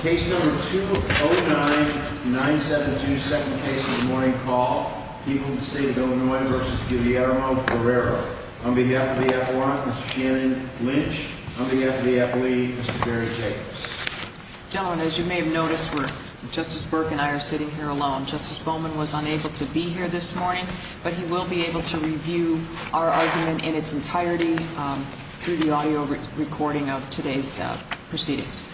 Case number 209-972, second case of the morning call. People of the State of Illinois v. Guillermo Guerrero. On behalf of the appellant, Mr. Shannon Lynch. On behalf of the appellee, Mr. Barry Jacobs. Gentlemen, as you may have noticed, Justice Burke and I are sitting here alone. Justice Bowman was unable to be here this morning, but he will be able to review our argument in its entirety through the audio recording of today's proceedings.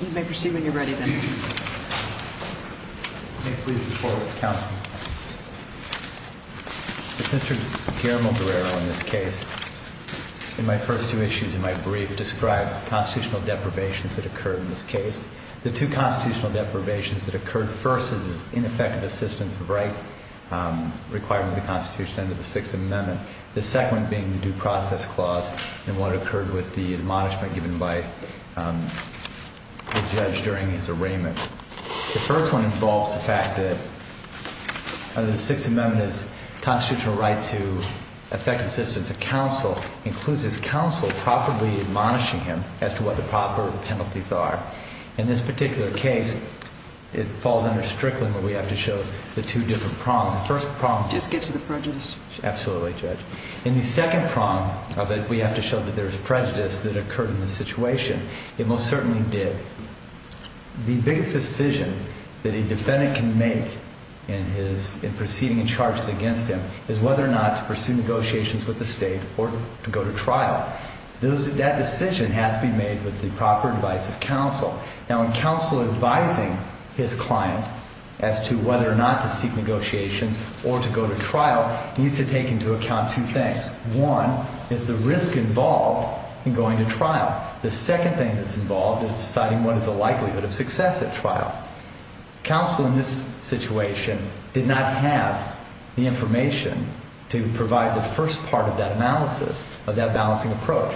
You may proceed when you're ready, then. May it please the Court of Counsel. Does Mr. Guillermo Guerrero in this case, in my first two issues in my brief, describe the constitutional deprivations that occurred in this case? The two constitutional deprivations that occurred first is his ineffective assistance of right requiring the Constitution under the Sixth Amendment. The second being the Due Process Clause and what occurred with the admonishment given by the judge during his arraignment. The first one involves the fact that under the Sixth Amendment, his constitutional right to effective assistance of counsel includes his counsel properly admonishing him as to what the proper penalties are. In this particular case, it falls under Strickland, but we have to show the two different prongs. Just get to the prejudice. Absolutely, Judge. In the second prong of it, we have to show that there is prejudice that occurred in this situation. It most certainly did. The biggest decision that a defendant can make in proceeding in charges against him is whether or not to pursue negotiations with the state or to go to trial. That decision has to be made with the proper advice of counsel. Now, in counsel advising his client as to whether or not to seek negotiations or to go to trial, he needs to take into account two things. One is the risk involved in going to trial. The second thing that's involved is deciding what is the likelihood of success at trial. Counsel in this situation did not have the information to provide the first part of that analysis, of that balancing approach.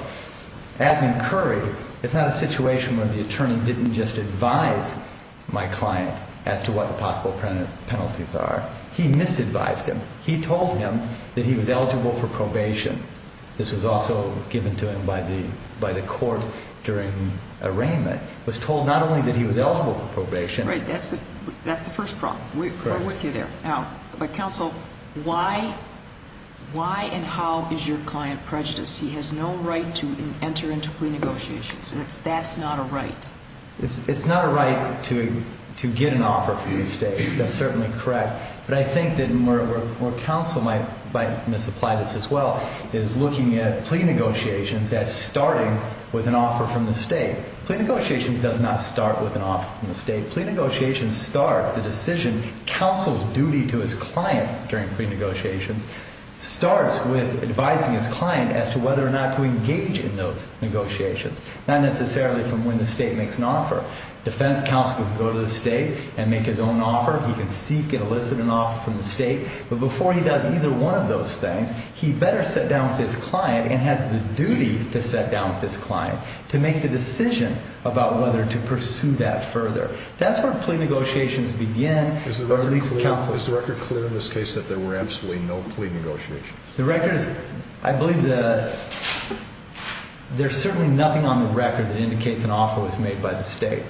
As in Curry, it's not a situation where the attorney didn't just advise my client as to what the possible penalties are. He misadvised him. He told him that he was eligible for probation. This was also given to him by the court during arraignment. He was told not only that he was eligible for probation. Right. That's the first prong. Correct. We're with you there. Now, counsel, why and how is your client prejudiced? He has no right to enter into plea negotiations, and that's not a right. It's not a right to get an offer from the state. That's certainly correct. But I think that where counsel might misapply this as well is looking at plea negotiations as starting with an offer from the state. Plea negotiations does not start with an offer from the state. The decision counsel's duty to his client during plea negotiations starts with advising his client as to whether or not to engage in those negotiations, not necessarily from when the state makes an offer. Defense counsel can go to the state and make his own offer. He can seek and elicit an offer from the state. But before he does either one of those things, he better sit down with his client and has the duty to sit down with his client to make the decision about whether to pursue that further. That's where plea negotiations begin. Is the record clear in this case that there were absolutely no plea negotiations? The record is, I believe there's certainly nothing on the record that indicates an offer was made by the state.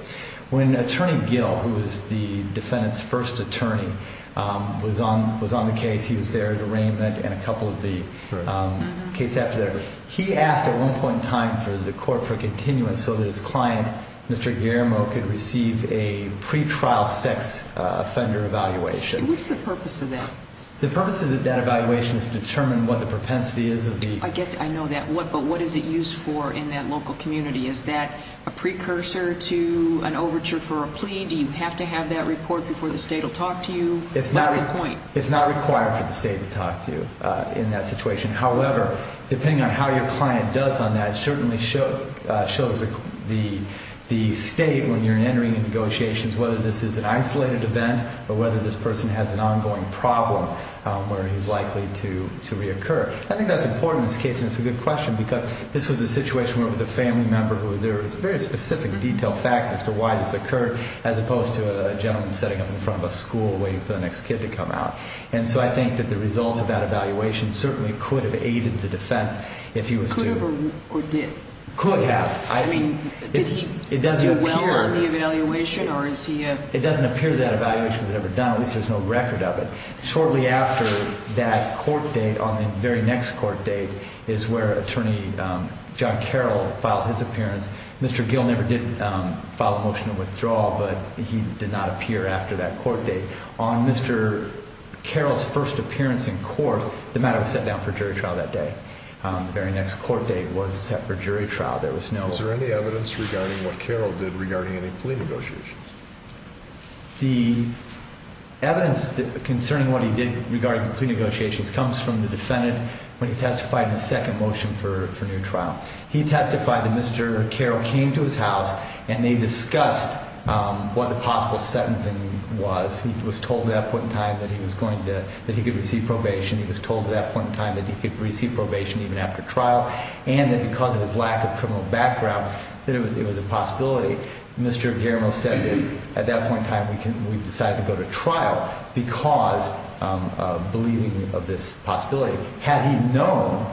When Attorney Gill, who was the defendant's first attorney, was on the case, he was there at arraignment and a couple of the cases after that. He asked at one point in time for the court for continuance so that his client, Mr. Guillermo, could receive a pretrial sex offender evaluation. And what's the purpose of that? The purpose of that evaluation is to determine what the propensity is of the- I get that. I know that. But what is it used for in that local community? Is that a precursor to an overture for a plea? Do you have to have that report before the state will talk to you? What's the point? It's not required for the state to talk to you in that situation. However, depending on how your client does on that, it certainly shows the state when you're entering into negotiations, whether this is an isolated event or whether this person has an ongoing problem where he's likely to reoccur. I think that's important in this case, and it's a good question, because this was a situation where it was a family member who was there. It's very specific, detailed facts as to why this occurred, as opposed to a gentleman setting up in front of a school waiting for the next kid to come out. And so I think that the results of that evaluation certainly could have aided the defense if he was to- Could have or did? Could have. I mean, did he do well on the evaluation, or is he a- It doesn't appear that evaluation was ever done, at least there's no record of it. Shortly after that court date, on the very next court date, is where Attorney John Carroll filed his appearance. Mr. Gill never did file a motion of withdrawal, but he did not appear after that court date. On Mr. Carroll's first appearance in court, the matter was set down for jury trial that day. The very next court date was set for jury trial. There was no- Is there any evidence regarding what Carroll did regarding any plea negotiations? The evidence concerning what he did regarding plea negotiations comes from the defendant when he testified in the second motion for new trial. He testified that Mr. Carroll came to his house and they discussed what the possible sentencing was. He was told at that point in time that he was going to- that he could receive probation. He was told at that point in time that he could receive probation even after trial. And that because of his lack of criminal background, that it was a possibility. Mr. Guillermo said that at that point in time we decided to go to trial because of believing of this possibility. Had he known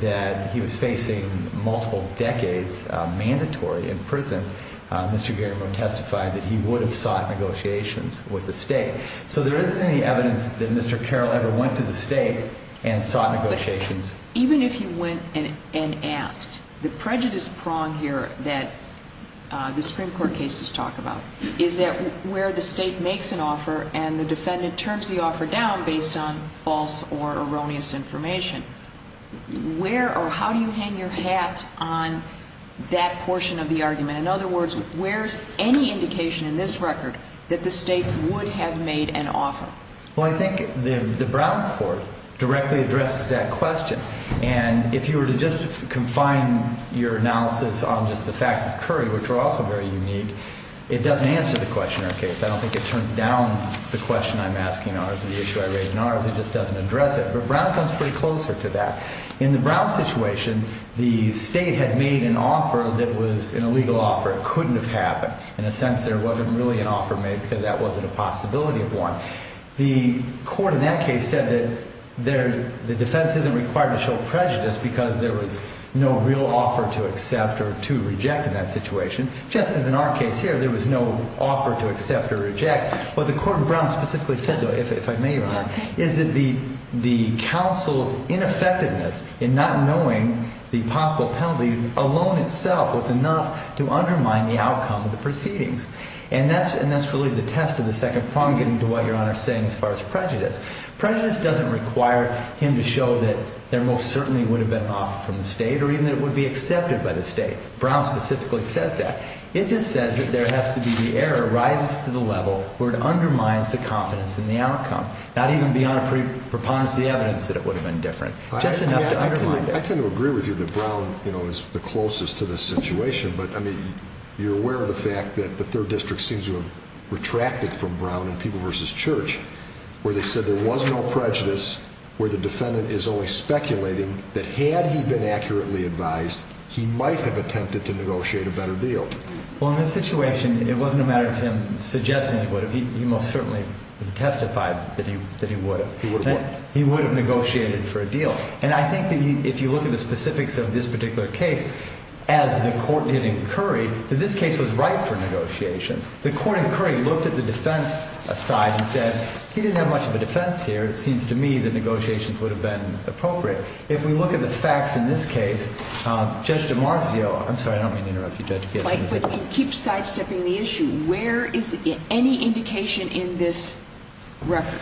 that he was facing multiple decades mandatory in prison, Mr. Guillermo testified that he would have sought negotiations with the state. So there isn't any evidence that Mr. Carroll ever went to the state and sought negotiations. Even if he went and asked, the prejudice prong here that the Supreme Court cases talk about is that where the state makes an offer and the defendant turns the offer down based on false or erroneous information, where or how do you hang your hat on that portion of the argument? In other words, where's any indication in this record that the state would have made an offer? Well, I think the Brown Court directly addresses that question. And if you were to just confine your analysis on just the facts of Curry, which are also very unique, it doesn't answer the question or case. I don't think it turns down the question I'm asking or the issue I raise in ours. It just doesn't address it. But Brown comes pretty closer to that. In the Brown situation, the state had made an offer that was an illegal offer. It couldn't have happened. In a sense, there wasn't really an offer made because that wasn't a possibility of one. The court in that case said that the defense isn't required to show prejudice because there was no real offer to accept or to reject in that situation. Just as in our case here, there was no offer to accept or reject. What the court in Brown specifically said, though, if I may, Your Honor, is that the counsel's ineffectiveness in not knowing the possible penalty alone itself was enough to undermine the outcome of the proceedings. And that's really the test of the second prong, getting to what Your Honor is saying as far as prejudice. Prejudice doesn't require him to show that there most certainly would have been an offer from the state or even that it would be accepted by the state. Brown specifically says that. It just says that there has to be the error rises to the level where it undermines the confidence in the outcome. Not even beyond a preponderance of the evidence that it would have been different. Just enough to undermine it. I tend to agree with you that Brown, you know, is the closest to this situation. But, I mean, you're aware of the fact that the Third District seems to have retracted from Brown and People v. Church where they said there was no prejudice, where the defendant is only speculating that had he been accurately advised, he might have attempted to negotiate a better deal. Well, in this situation, it wasn't a matter of him suggesting he would have. He most certainly testified that he would have. He would have what? He would have negotiated for a deal. And I think that if you look at the specifics of this particular case, as the court did in Curry, that this case was ripe for negotiations. The court in Curry looked at the defense aside and said he didn't have much of a defense here. It seems to me that negotiations would have been appropriate. If we look at the facts in this case, Judge DiMarzio, I'm sorry, I don't mean to interrupt you, Judge Gittins. But you keep sidestepping the issue. Where is any indication in this record?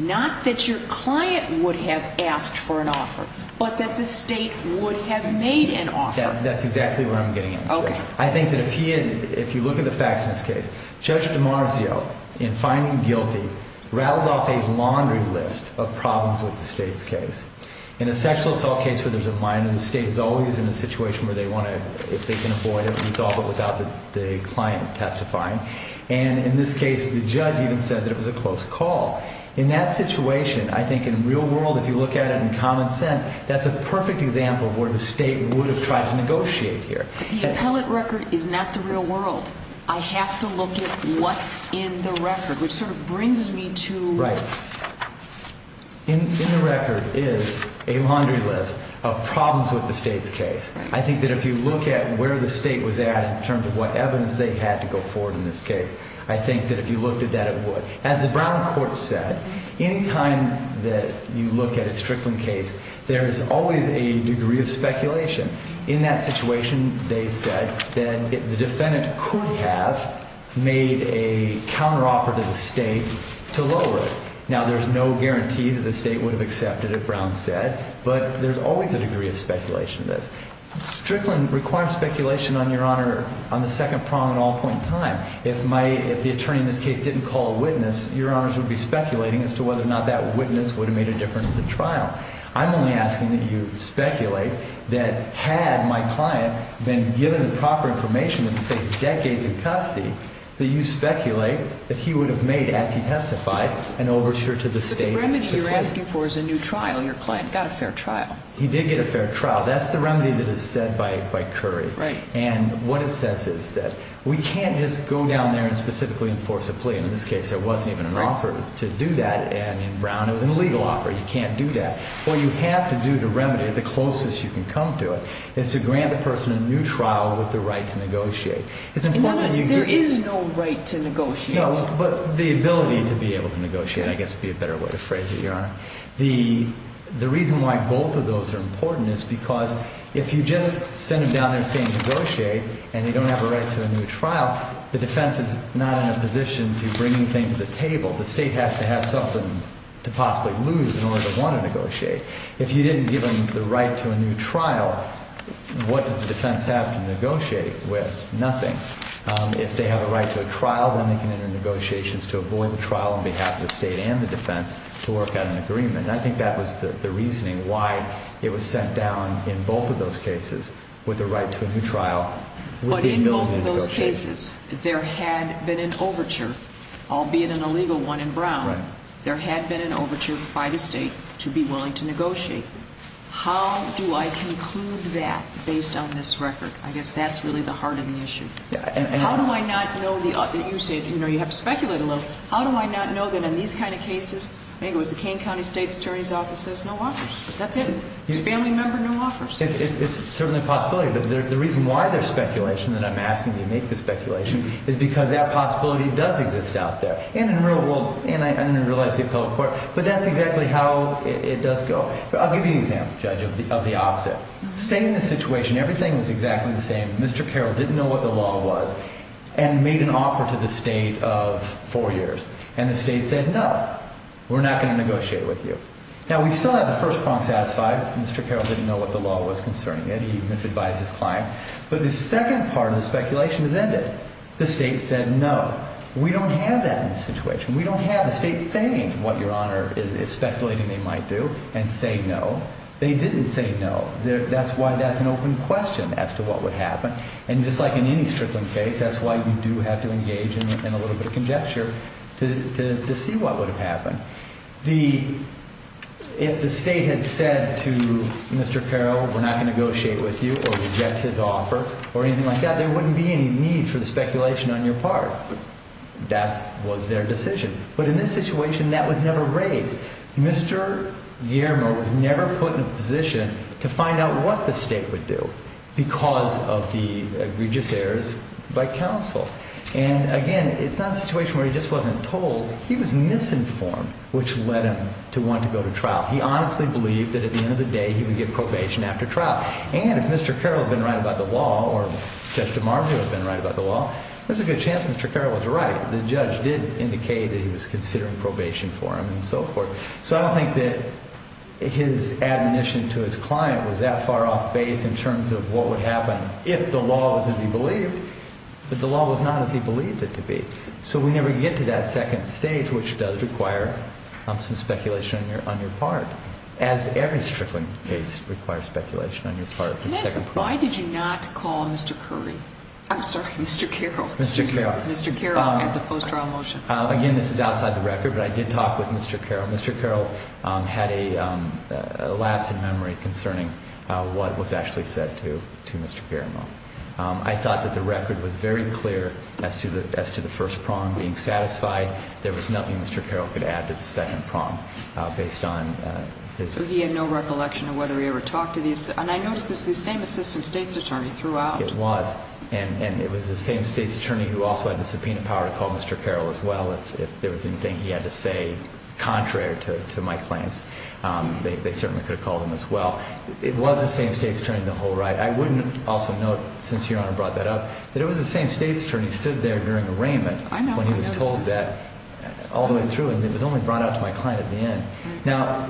Not that your client would have asked for an offer, but that the state would have made an offer. That's exactly where I'm getting at. Okay. I think that if you look at the facts in this case, Judge DiMarzio, in finding guilty, rattled off a laundry list of problems with the state's case. In a sexual assault case where there's a minor, the state is always in a situation where they want to, if they can avoid it, resolve it without the client testifying. And in this case, the judge even said that it was a close call. In that situation, I think in the real world, if you look at it in common sense, that's a perfect example of where the state would have tried to negotiate here. But the appellate record is not the real world. I have to look at what's in the record, which sort of brings me to... Right. In the record is a laundry list of problems with the state's case. I think that if you look at where the state was at in terms of what evidence they had to go forward in this case, I think that if you looked at that, it would. As the Brown Court said, any time that you look at a Strickland case, there is always a degree of speculation. In that situation, they said that the defendant could have made a counteroffer to the state to lower it. Now, there's no guarantee that the state would have accepted it, Brown said, but there's always a degree of speculation in this. Strickland requires speculation on Your Honor on the second prong at all point in time. If the attorney in this case didn't call a witness, Your Honors would be speculating as to whether or not that witness would have made a difference at trial. I'm only asking that you speculate that had my client been given the proper information that he faced decades in custody, that you speculate that he would have made, as he testified, an overture to the state. But the remedy you're asking for is a new trial. Your client got a fair trial. He did get a fair trial. That's the remedy that is said by Curry. And what it says is that we can't just go down there and specifically enforce a plea. In this case, there wasn't even an offer to do that, and in Brown, it was an illegal offer. You can't do that. What you have to do to remedy it, the closest you can come to it, is to grant the person a new trial with the right to negotiate. There is no right to negotiate. No, but the ability to be able to negotiate, I guess, would be a better way of phrasing it, Your Honor. The reason why both of those are important is because if you just send them down there saying negotiate, and they don't have a right to a new trial, the defense is not in a position to bring anything to the table. The state has to have something to possibly lose in order to want to negotiate. If you didn't give them the right to a new trial, what does the defense have to negotiate with? Nothing. If they have a right to a trial, then they can enter negotiations to avoid the trial on behalf of the state and the defense to work out an agreement. I think that was the reasoning why it was sent down in both of those cases with the right to a new trial with the ability to negotiate. But in both of those cases, there had been an overture, albeit an illegal one in Brown. There had been an overture by the state to be willing to negotiate. How do I conclude that based on this record? I guess that's really the heart of the issue. How do I not know that you said, you know, you have to speculate a little. How do I not know that in these kind of cases, maybe it was the Kane County State's Attorney's Office says no offers. That's it. It's a family member, no offers. It's certainly a possibility. But the reason why there's speculation, and I'm asking you to make the speculation, is because that possibility does exist out there. And in the real world, and I realize the appellate court, but that's exactly how it does go. I'll give you an example, Judge, of the opposite. Say in this situation everything was exactly the same. Mr. Carroll didn't know what the law was and made an offer to the state of four years. And the state said no, we're not going to negotiate with you. Now, we still have the first prong satisfied. Mr. Carroll didn't know what the law was concerning it. He misadvised his client. But the second part of the speculation has ended. The state said no. We don't have that in this situation. We don't have the state saying what Your Honor is speculating they might do and say no. They didn't say no. That's why that's an open question as to what would happen. And just like in any Strickland case, that's why you do have to engage in a little bit of conjecture to see what would have happened. If the state had said to Mr. Carroll, we're not going to negotiate with you or reject his offer or anything like that, there wouldn't be any need for the speculation on your part. That was their decision. But in this situation, that was never raised. Mr. Guillermo was never put in a position to find out what the state would do because of the egregious errors by counsel. And, again, it's not a situation where he just wasn't told. He was misinformed, which led him to want to go to trial. He honestly believed that at the end of the day he would get probation after trial. And if Mr. Carroll had been right about the law or Judge DiMarzio had been right about the law, there's a good chance Mr. Carroll was right. The judge did indicate that he was considering probation for him and so forth. So I don't think that his admonition to his client was that far off base in terms of what would happen if the law was as he believed, but the law was not as he believed it to be. So we never get to that second stage, which does require some speculation on your part, as every Strickland case requires speculation on your part. Can I ask why did you not call Mr. Curry? I'm sorry, Mr. Carroll. Mr. Carroll. Mr. Carroll at the post-trial motion. Again, this is outside the record, but I did talk with Mr. Carroll. Mr. Carroll had a lapse in memory concerning what was actually said to Mr. Garamo. I thought that the record was very clear as to the first prong being satisfied. There was nothing Mr. Carroll could add to the second prong based on his ‑‑ So he had no recollection of whether he ever talked to the assistant. And I noticed this is the same assistant state's attorney throughout. It was. And it was the same state's attorney who also had the subpoena power to call Mr. Carroll as well if there was anything he had to say contrary to my claims. They certainly could have called him as well. It was the same state's attorney the whole ride. I wouldn't also note, since Your Honor brought that up, that it was the same state's attorney who stood there during arraignment when he was told that all the way through. And it was only brought out to my client at the end. Now,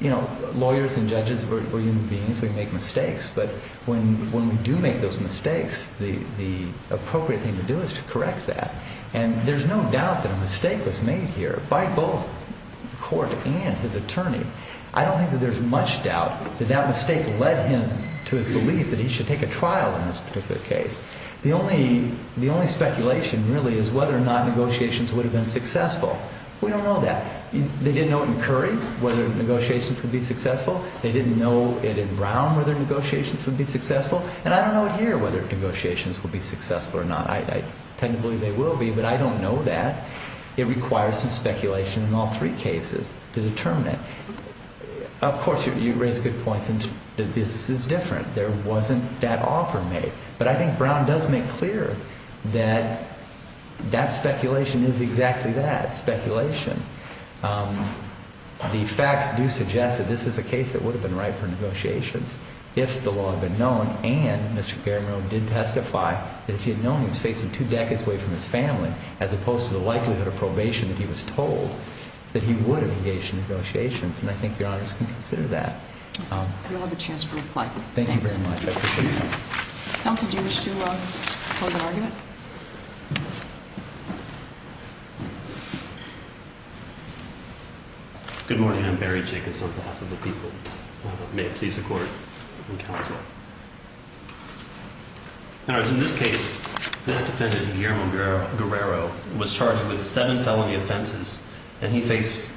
you know, lawyers and judges, we're human beings. We make mistakes. But when we do make those mistakes, the appropriate thing to do is to correct that. And there's no doubt that a mistake was made here by both court and his attorney. I don't think that there's much doubt that that mistake led him to his belief that he should take a trial in this particular case. The only speculation really is whether or not negotiations would have been successful. We don't know that. They didn't know in Curry whether negotiations would be successful. They didn't know it in Brown whether negotiations would be successful. And I don't know here whether negotiations would be successful or not. I tend to believe they will be, but I don't know that. It requires some speculation in all three cases to determine it. Of course, you raise good points, and this is different. There wasn't that offer made. But I think Brown does make clear that that speculation is exactly that, speculation. The facts do suggest that this is a case that would have been right for negotiations if the law had been known and Mr. Garamone did testify that if he had known he was facing two decades away from his family, as opposed to the likelihood of probation that he was told, that he would have engaged in negotiations. And I think Your Honors can consider that. I don't have a chance to reply. Thank you very much. I appreciate it. Counsel, do you wish to pose an argument? Good morning. I'm Barry Jacobs on behalf of the people. May it please the Court and counsel. In this case, this defendant, Guillermo Guerrero, was charged with seven felony offenses, and he faced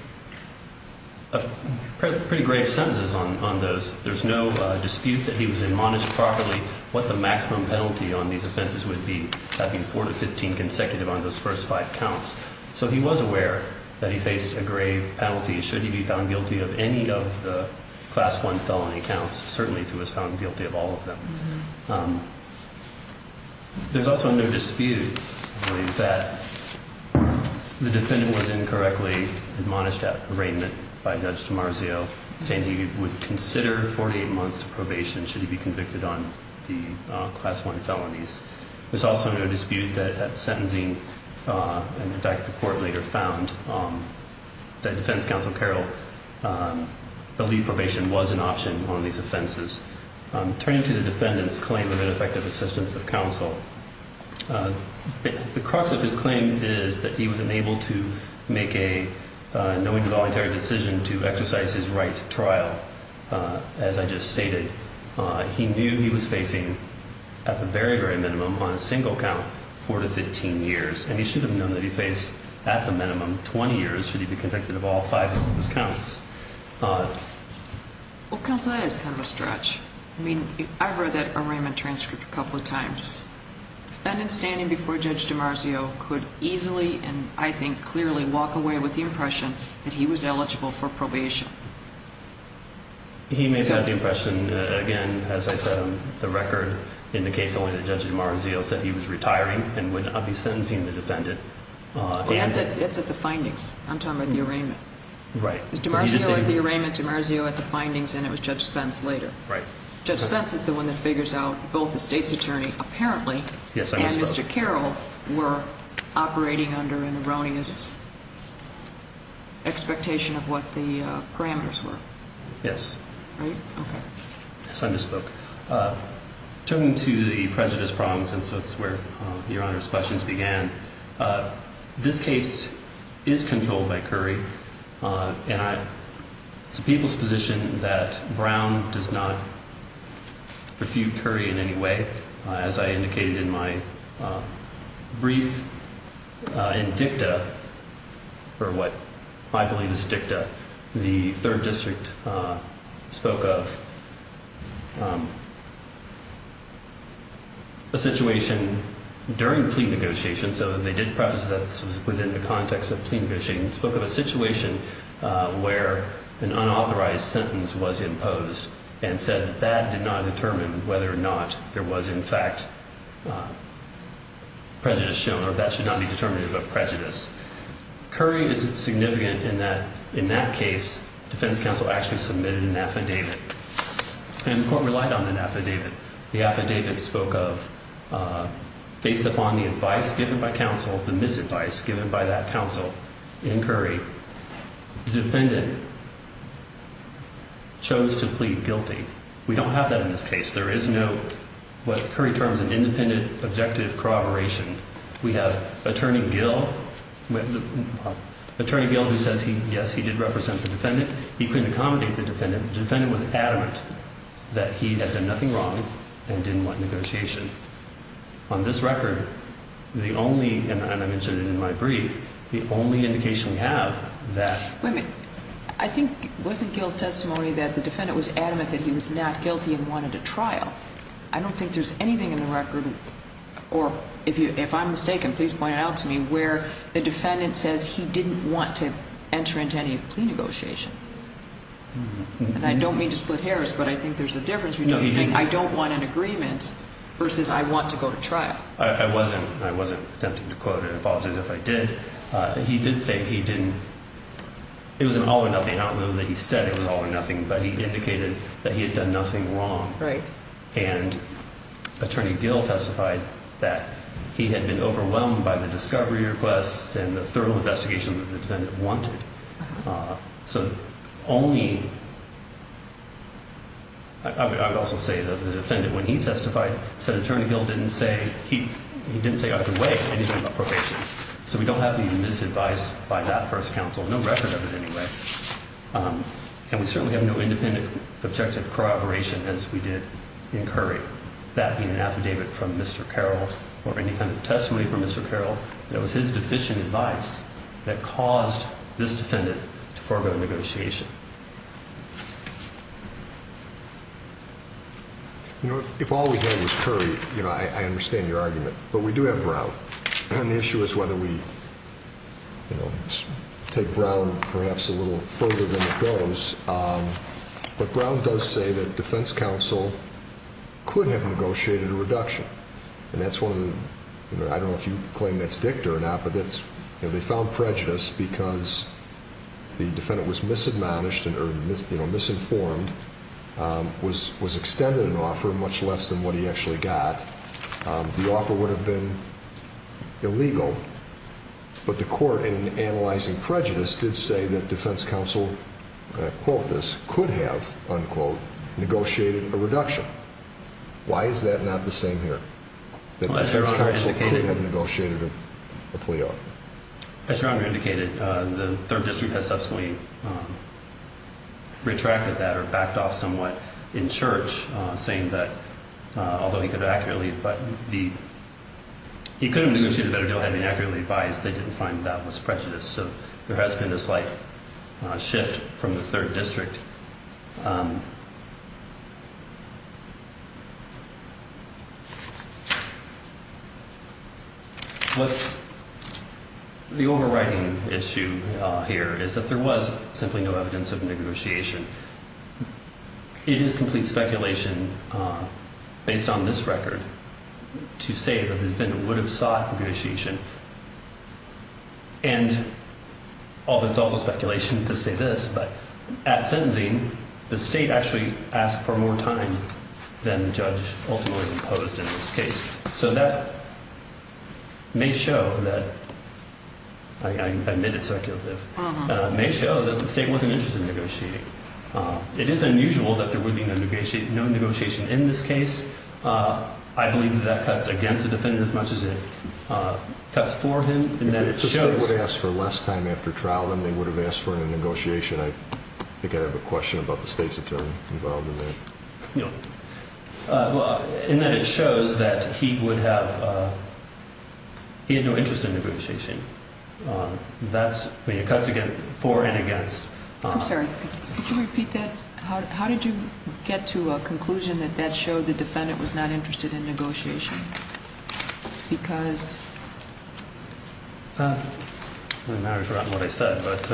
pretty grave sentences on those. There's no dispute that he was admonished properly what the maximum penalty on these offenses would be, having four to 15 consecutive on those first five counts. So he was aware that he faced a grave penalty should he be found guilty of any of the Class I felony counts, certainly if he was found guilty of all of them. There's also no dispute that the defendant was incorrectly admonished at arraignment by Judge DiMarzio, saying he would consider 48 months' probation should he be convicted on the Class I felonies. There's also no dispute that at sentencing, and in fact the Court later found, that Defense Counsel Carroll believed probation was an option on these offenses. Turning to the defendant's claim of ineffective assistance of counsel, the crux of his claim is that he was unable to make a knowingly voluntary decision to exercise his right to trial. As I just stated, he knew he was facing, at the very, very minimum, on a single count four to 15 years, and he should have known that he faced, at the minimum, 20 years should he be convicted of all five of his counts. Well, counsel, that is kind of a stretch. I mean, I've read that arraignment transcript a couple of times. Defendant standing before Judge DiMarzio could easily, and I think clearly, walk away with the impression that he was eligible for probation. He may have had the impression, again, as I said on the record, in the case only that Judge DiMarzio said he was retiring and would not be sentencing the defendant. That's at the findings. I'm talking about the arraignment. Right. It was DiMarzio at the arraignment, DiMarzio at the findings, and it was Judge Spence later. Right. Judge Spence is the one that figures out both the state's attorney apparently- Yes, I misspoke. And Mr. Carroll were operating under an erroneous expectation of what the parameters were. Yes. Right? Okay. Yes, I misspoke. Turning to the prejudice prongs, and so it's where Your Honor's questions began, this case is controlled by Curry, and it's a people's position that Brown does not refute Curry in any way. As I indicated in my brief, in dicta, or what I believe is dicta, the third district spoke of a situation during plea negotiation, so they did preface that this was within the context of plea negotiation, and spoke of a situation where an unauthorized sentence was imposed and said that that did not determine whether or not there was, in fact, prejudice shown, or that should not be determined about prejudice. Curry is significant in that, in that case, defense counsel actually submitted an affidavit, and the court relied on that affidavit. The affidavit spoke of, based upon the advice given by counsel, the misadvice given by that counsel in Curry, the defendant chose to plead guilty. We don't have that in this case. There is no, what Curry terms, an independent objective corroboration. We have Attorney Gil, Attorney Gil who says, yes, he did represent the defendant. He couldn't accommodate the defendant. The defendant was adamant that he had done nothing wrong and didn't want negotiation. On this record, the only, and I mentioned it in my brief, the only indication we have that. Wait a minute. I think, wasn't Gil's testimony that the defendant was adamant that he was not guilty and wanted a trial? I don't think there's anything in the record, or if I'm mistaken, please point it out to me, where the defendant says he didn't want to enter into any plea negotiation. And I don't mean to split hairs, but I think there's a difference between saying, I don't want an agreement versus I want to go to trial. I wasn't, I wasn't attempting to quote it. I apologize if I did. He did say he didn't, it was an all or nothing, not that he said it was all or nothing, but he indicated that he had done nothing wrong. Right. And Attorney Gil testified that he had been overwhelmed by the discovery requests and the thorough investigation that the defendant wanted. So only, I would also say that the defendant, when he testified, said Attorney Gil didn't say, he didn't say either way anything about probation. So we don't have any misadvice by that first counsel, no record of it anyway. And we certainly have no independent objective corroboration as we did in Curry. That being an affidavit from Mr. Carroll or any kind of testimony from Mr. Carroll, that was his deficient advice that caused this defendant to forego negotiation. You know, if all we had was Curry, you know, I understand your argument, but we do have Brown. The issue is whether we take Brown perhaps a little further than it goes. But Brown does say that defense counsel couldn't have negotiated a reduction. And that's one of the, I don't know if you claim that's dicta or not, but they found prejudice because the defendant was misadmonished or misinformed, was extended an offer much less than what he actually got. The offer would have been illegal. But the court, in analyzing prejudice, did say that defense counsel, quote this, could have, unquote, negotiated a reduction. Why is that not the same here? That defense counsel could have negotiated a plea offer. As Your Honor indicated, the Third District has subsequently retracted that or backed off somewhat in church, saying that although he could have accurately, but he could have negotiated a better deal having accurately advised, they didn't find that was prejudice. So there has been a slight shift from the Third District. The overriding issue here is that there was simply no evidence of negotiation. It is complete speculation based on this record to say that the defendant would have sought negotiation. And although it's also speculation to say this, but at sentencing, the state actually asked for more time than the judge ultimately imposed in this case. So that may show that, I admit it's speculative, may show that the state wasn't interested in negotiating. It is unusual that there would be no negotiation in this case. I believe that that cuts against the defendant as much as it cuts for him. If the state would have asked for less time after trial than they would have asked for in a negotiation, I think I have a question about the state's attorney involved in that. No. Well, in that it shows that he would have, he had no interest in negotiation. That's, I mean, it cuts for and against. I'm sorry, could you repeat that? How did you get to a conclusion that that showed the defendant was not interested in negotiation? Because. Now I've forgotten what I said, but.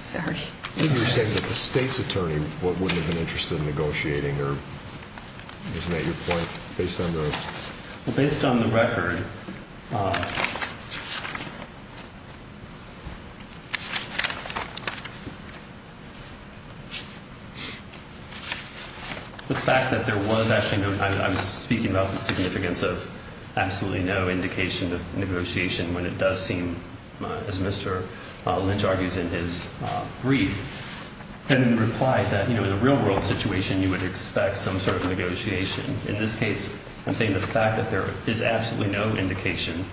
Sorry. You're saying that the state's attorney wouldn't have been interested in negotiating or isn't that your point based on the. Well, based on the record. The fact that there was actually no, I'm speaking about the significance of absolutely no indication of negotiation when it does seem as Mr. Lynch argues in his brief. And in reply that, you know, in a real world situation, you would expect some sort of negotiation. In this case, I'm saying the fact that there is absolutely no indication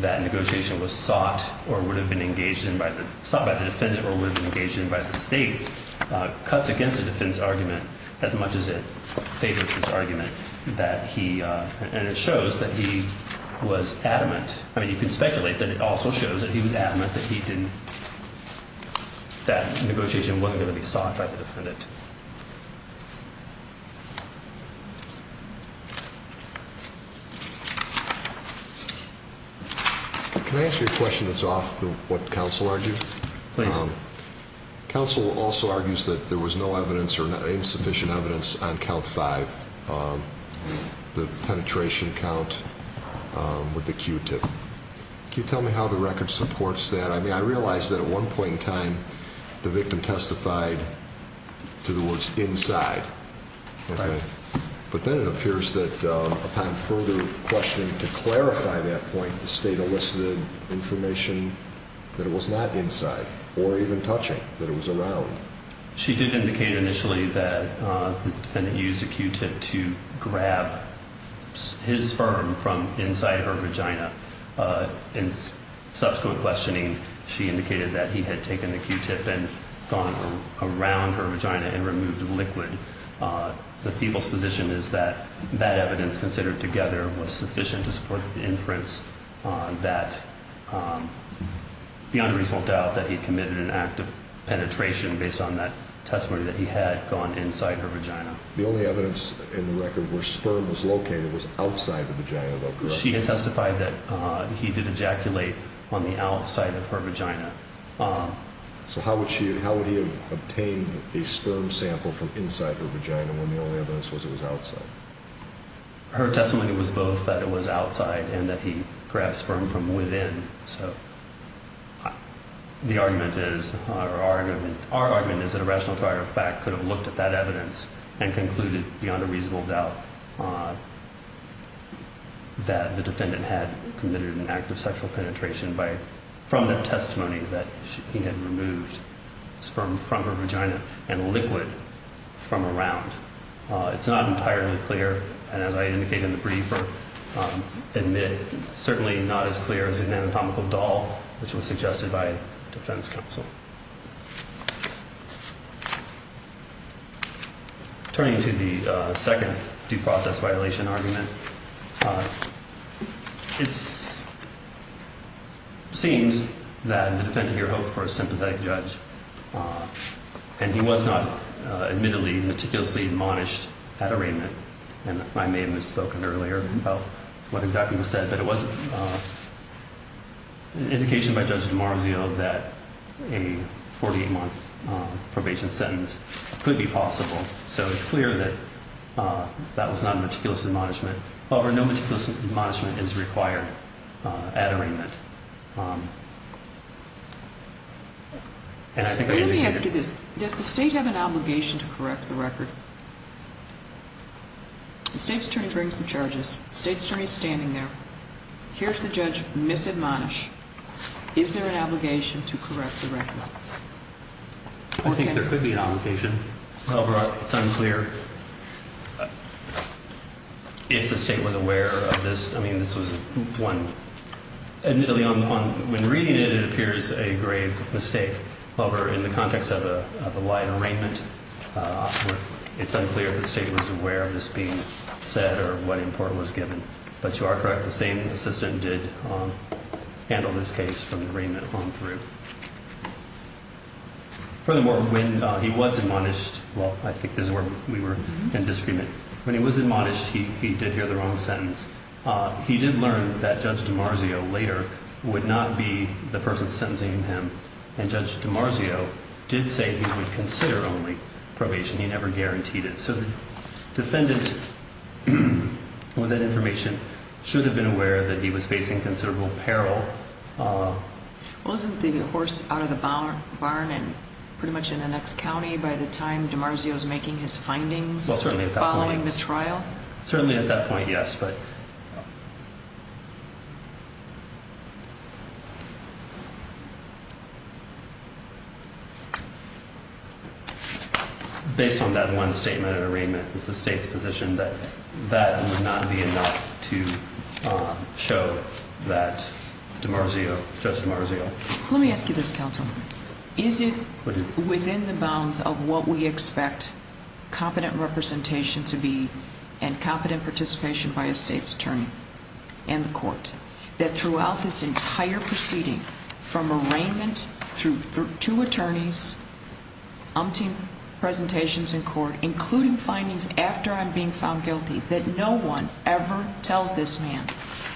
that negotiation was sought or would have been engaged in by the, sought by the defendant or would have been engaged in by the state cuts against the defense argument as much as it favors this argument that he, and it shows that he was adamant. I mean, you can speculate that it also shows that he was adamant that he didn't. That negotiation wasn't going to be sought by the defendant. Can I ask you a question that's off what counsel argues? Please. Counsel also argues that there was no evidence or insufficient evidence on count five. The penetration count with the Q tip. Can you tell me how the record supports that? I mean, I realized that at one point in time, the victim testified to the words inside. But then it appears that upon further questioning to clarify that point, the state elicited information that it was not inside or even touching that it was around. She did indicate initially that the defendant used a Q tip to grab his sperm from inside her vagina. In subsequent questioning, she indicated that he had taken the Q tip and gone around her vagina and removed the liquid. The people's position is that that evidence considered together was sufficient to support the inference on that. The unreasonable doubt that he committed an act of penetration based on that testimony that he had gone inside her vagina. The only evidence in the record where sperm was located was outside the vagina. She had testified that he did ejaculate on the outside of her vagina. So how would she how would he obtain a sperm sample from inside her vagina when the only evidence was it was outside? Her testimony was both that it was outside and that he grabbed sperm from within. So the argument is our argument. Our argument is that a rational prior fact could have looked at that evidence and concluded beyond a reasonable doubt. That the defendant had committed an act of sexual penetration by from the testimony that he had removed sperm from her vagina and liquid from around. It's not entirely clear. And as I indicated in the briefer, certainly not as clear as an anatomical doll, which was suggested by defense counsel. Turning to the second due process violation argument, it seems that the defendant here hoped for a sympathetic judge. And he was not admittedly meticulously admonished at arraignment. And I may have misspoken earlier about what exactly was said. But it was an indication by Judge DiMarzio that a 48 month probation sentence could be possible. So it's clear that that was not meticulous admonishment. However, no meticulous admonishment is required at arraignment. Let me ask you this. Does the state have an obligation to correct the record? The state's attorney brings the charges. The state's attorney is standing there. Here's the judge misadmonish. Is there an obligation to correct the record? I think there could be an obligation. However, it's unclear if the state was aware of this. I mean, this was admittedly, when reading it, it appears a grave mistake. However, in the context of a wide arraignment, it's unclear if the state was aware of this being said or what import was given. But you are correct. The same assistant did handle this case from arraignment on through. Furthermore, when he was admonished, well, I think this is where we were in disagreement. When he was admonished, he did hear the wrong sentence. He did learn that Judge DiMarzio later would not be the person sentencing him, and Judge DiMarzio did say he would consider only probation. He never guaranteed it. So the defendant, with that information, should have been aware that he was facing considerable peril. Wasn't the horse out of the barn and pretty much in the next county by the time DiMarzio was making his findings following the trial? Well, certainly at that point, yes. But based on that one statement of arraignment, it's the state's position that that would not be enough to show that DiMarzio, Judge DiMarzio. Let me ask you this, counsel. Is it within the bounds of what we expect competent representation to be and competent participation by a state's attorney and the court that throughout this entire proceeding from arraignment through two attorneys, umpteen presentations in court, including findings after I'm being found guilty, that no one ever tells this man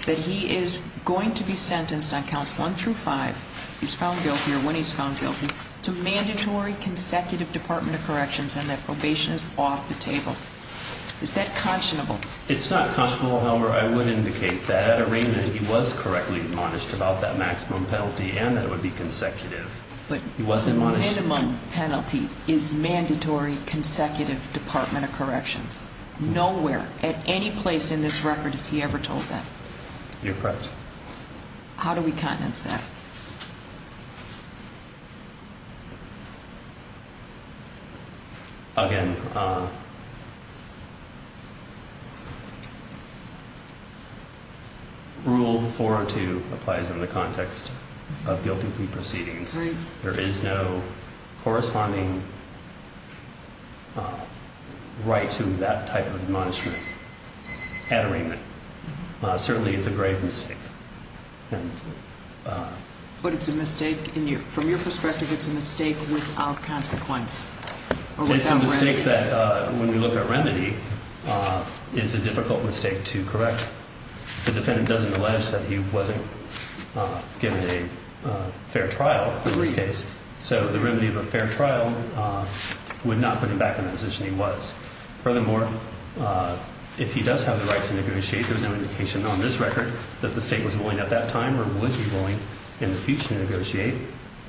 that he is going to be sentenced on counts one through five, he's found guilty or when he's found guilty, to mandatory consecutive Department of Corrections and that probation is off the table? Is that conscionable? It's not conscionable. However, I would indicate that at arraignment, he was correctly admonished about that maximum penalty and that it would be consecutive. But the minimum penalty is mandatory consecutive Department of Corrections. Nowhere at any place in this record has he ever told that. You're correct. How do we countenance that? Again, rule four or two applies in the context of guilty plea proceedings. There is no corresponding right to that type of admonishment at arraignment. Certainly it's a grave mistake. But it's a mistake. From your perspective, it's a mistake without consequence. It's a mistake that when we look at remedy, it's a difficult mistake to correct. The defendant doesn't allege that he wasn't given a fair trial in this case. So the remedy of a fair trial would not put him back in the position he was. Furthermore, if he does have the right to negotiate, there's no indication on this record that the state was willing at that time or would be willing in the future to negotiate.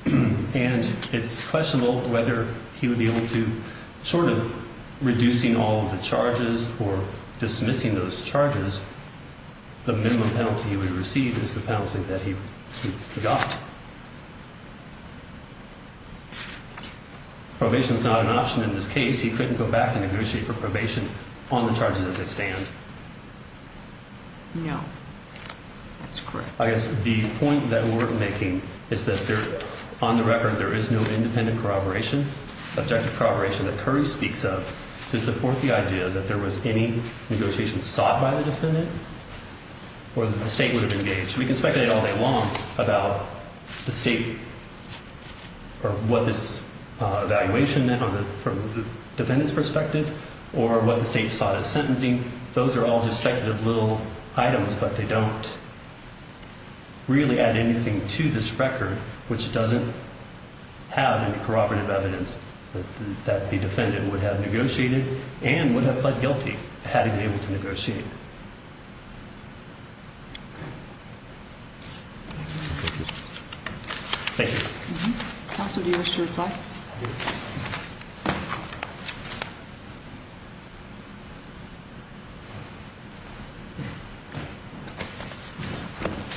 And it's questionable whether he would be able to, short of reducing all of the charges or dismissing those charges, the minimum penalty he would receive is the penalty that he got. Probation is not an option in this case. He couldn't go back and negotiate for probation on the charges as they stand. No, that's correct. I guess the point that we're making is that on the record there is no independent corroboration, objective corroboration that Curry speaks of to support the idea that there was any negotiation sought by the defendant or that the state would have engaged. We can speculate all day long about the state or what this evaluation meant from the defendant's perspective or what the state sought of sentencing. Those are all just speculative little items, but they don't really add anything to this record, which doesn't have any corroborative evidence that the defendant would have negotiated and would have pled guilty had he been able to negotiate. Thank you. Counsel, do you wish to reply?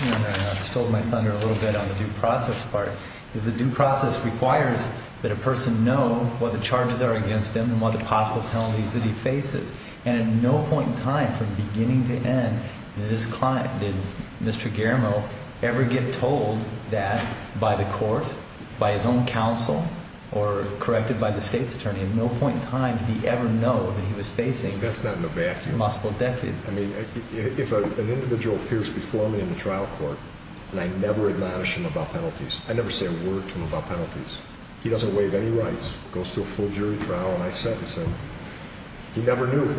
I stalled my thunder a little bit on the due process part. The due process requires that a person know what the charges are against him and what the possible penalties that he faces. And at no point in time from beginning to end did Mr. Garamo ever get told that by the court, by his own counsel, or corrected by the state's attorney. At no point in time did he ever know that he was facing multiple decades. That's not in a vacuum. I mean, if an individual appears before me in the trial court and I never admonish him about penalties, I never say a word to him about penalties, he doesn't waive any rights, goes to a full jury trial and I sentence him, he never knew.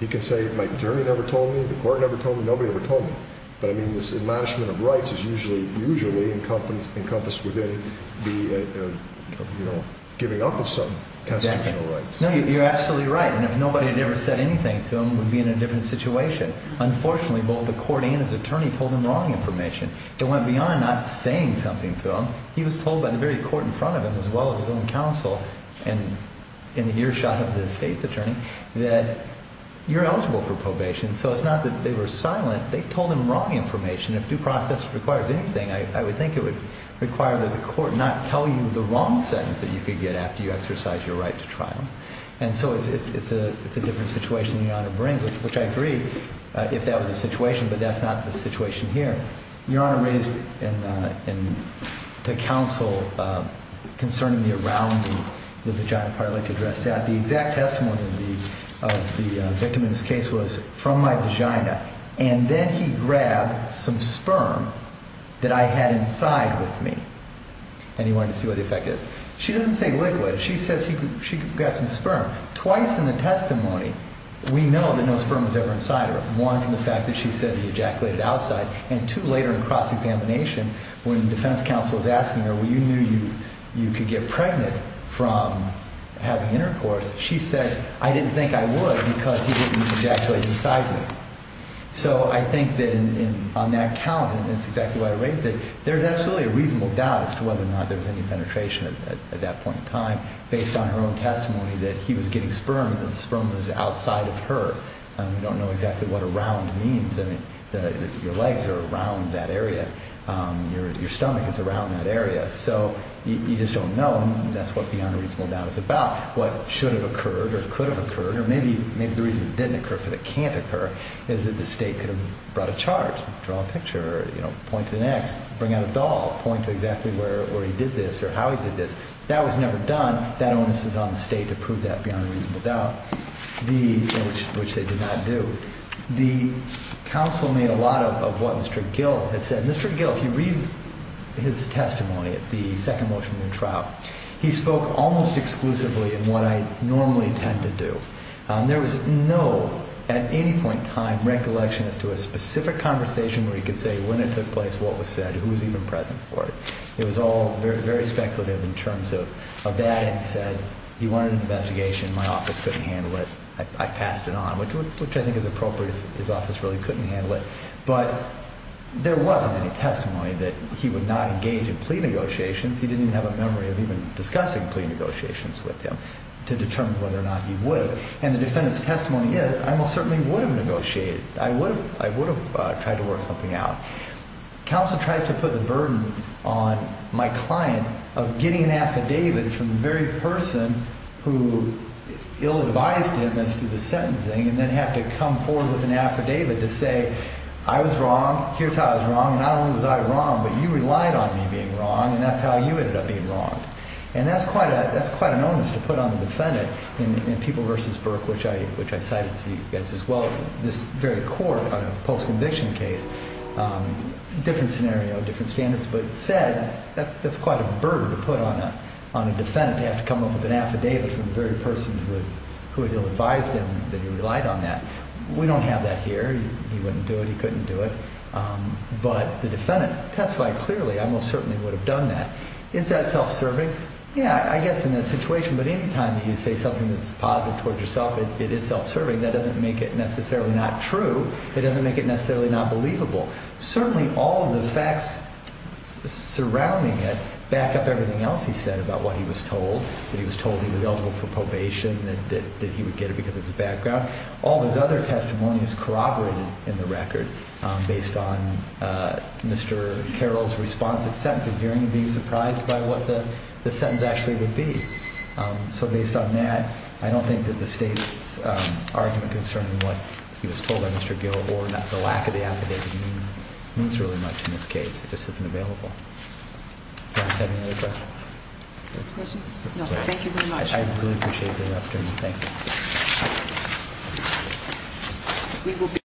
He can say, my attorney never told me, the court never told me, nobody ever told me. But I mean, this admonishment of rights is usually encompassed within the giving up of some constitutional rights. No, you're absolutely right. And if nobody had ever said anything to him, we'd be in a different situation. Unfortunately, both the court and his attorney told him wrong information. It went beyond not saying something to him. He was told by the very court in front of him, as well as his own counsel and in the earshot of the state's attorney, that you're eligible for probation. So it's not that they were silent. They told him wrong information. If due process requires anything, I would think it would require that the court not tell you the wrong sentence that you could get after you exercise your right to trial. And so it's a different situation than you ought to bring, which I agree, if that was the situation, but that's not the situation here. Your Honor raised in the counsel concerning the arounding, the vagina part. I'd like to address that. The exact testimony of the victim in this case was from my vagina, and then he grabbed some sperm that I had inside with me. And he wanted to see what the effect is. She doesn't say liquid. She says she grabbed some sperm. Twice in the testimony, we know that no sperm was ever inside her. One, from the fact that she said he ejaculated outside. And two, later in cross-examination, when the defense counsel is asking her, well, you knew you could get pregnant from having intercourse. She said, I didn't think I would because he didn't ejaculate inside me. So I think that on that count, and it's exactly why I raised it, there's absolutely a reasonable doubt as to whether or not there was any penetration at that point in time, based on her own testimony that he was getting sperm and the sperm was outside of her. We don't know exactly what around means. Your legs are around that area. Your stomach is around that area. So you just don't know, and that's what the unreasonable doubt is about. What should have occurred or could have occurred, or maybe the reason it didn't occur but it can't occur, is that the state could have brought a charge, draw a picture, point to the next, bring out a doll, point to exactly where he did this or how he did this. That was never done. That onus is on the state to prove that beyond a reasonable doubt. Which they did not do. The counsel made a lot of what Mr. Gill had said. Mr. Gill, if you read his testimony at the second motion of the trial, he spoke almost exclusively in what I normally tend to do. There was no, at any point in time, recollection as to a specific conversation where he could say when it took place, what was said, who was even present for it. It was all very speculative in terms of that, and he said he wanted an investigation. My office couldn't handle it. I passed it on, which I think is appropriate. His office really couldn't handle it. But there wasn't any testimony that he would not engage in plea negotiations. He didn't even have a memory of even discussing plea negotiations with him to determine whether or not he would. And the defendant's testimony is, I most certainly would have negotiated. I would have tried to work something out. Counsel tries to put the burden on my client of getting an affidavit from the very person who ill-advised him as to the sentencing and then have to come forward with an affidavit to say, I was wrong. Here's how I was wrong. Not only was I wrong, but you relied on me being wrong, and that's how you ended up being wrong. And that's quite an onus to put on the defendant in People v. Burke, which I cited to you guys as well. This very court on a post-conviction case, different scenario, different standards. But said, that's quite a burden to put on a defendant to have to come up with an affidavit from the very person who had ill-advised him that he relied on that. We don't have that here. He wouldn't do it. He couldn't do it. But the defendant testified clearly, I most certainly would have done that. Is that self-serving? Yeah, I guess in that situation. But any time that you say something that's positive towards yourself, it is self-serving. That doesn't make it necessarily not true. It doesn't make it necessarily not believable. Certainly all of the facts surrounding it back up everything else he said about what he was told, that he was told he was eligible for probation, that he would get it because of his background. All of his other testimonies corroborated in the record based on Mr. Carroll's response at sentencing, Mr. Carroll appearing to be surprised by what the sentence actually would be. So based on that, I don't think that the state's argument concerning what he was told by Mr. Gillibrand, the lack of the affidavit, means really much in this case. It just isn't available. Do I have any other questions? No. Thank you very much. I really appreciate the afternoon. Thank you.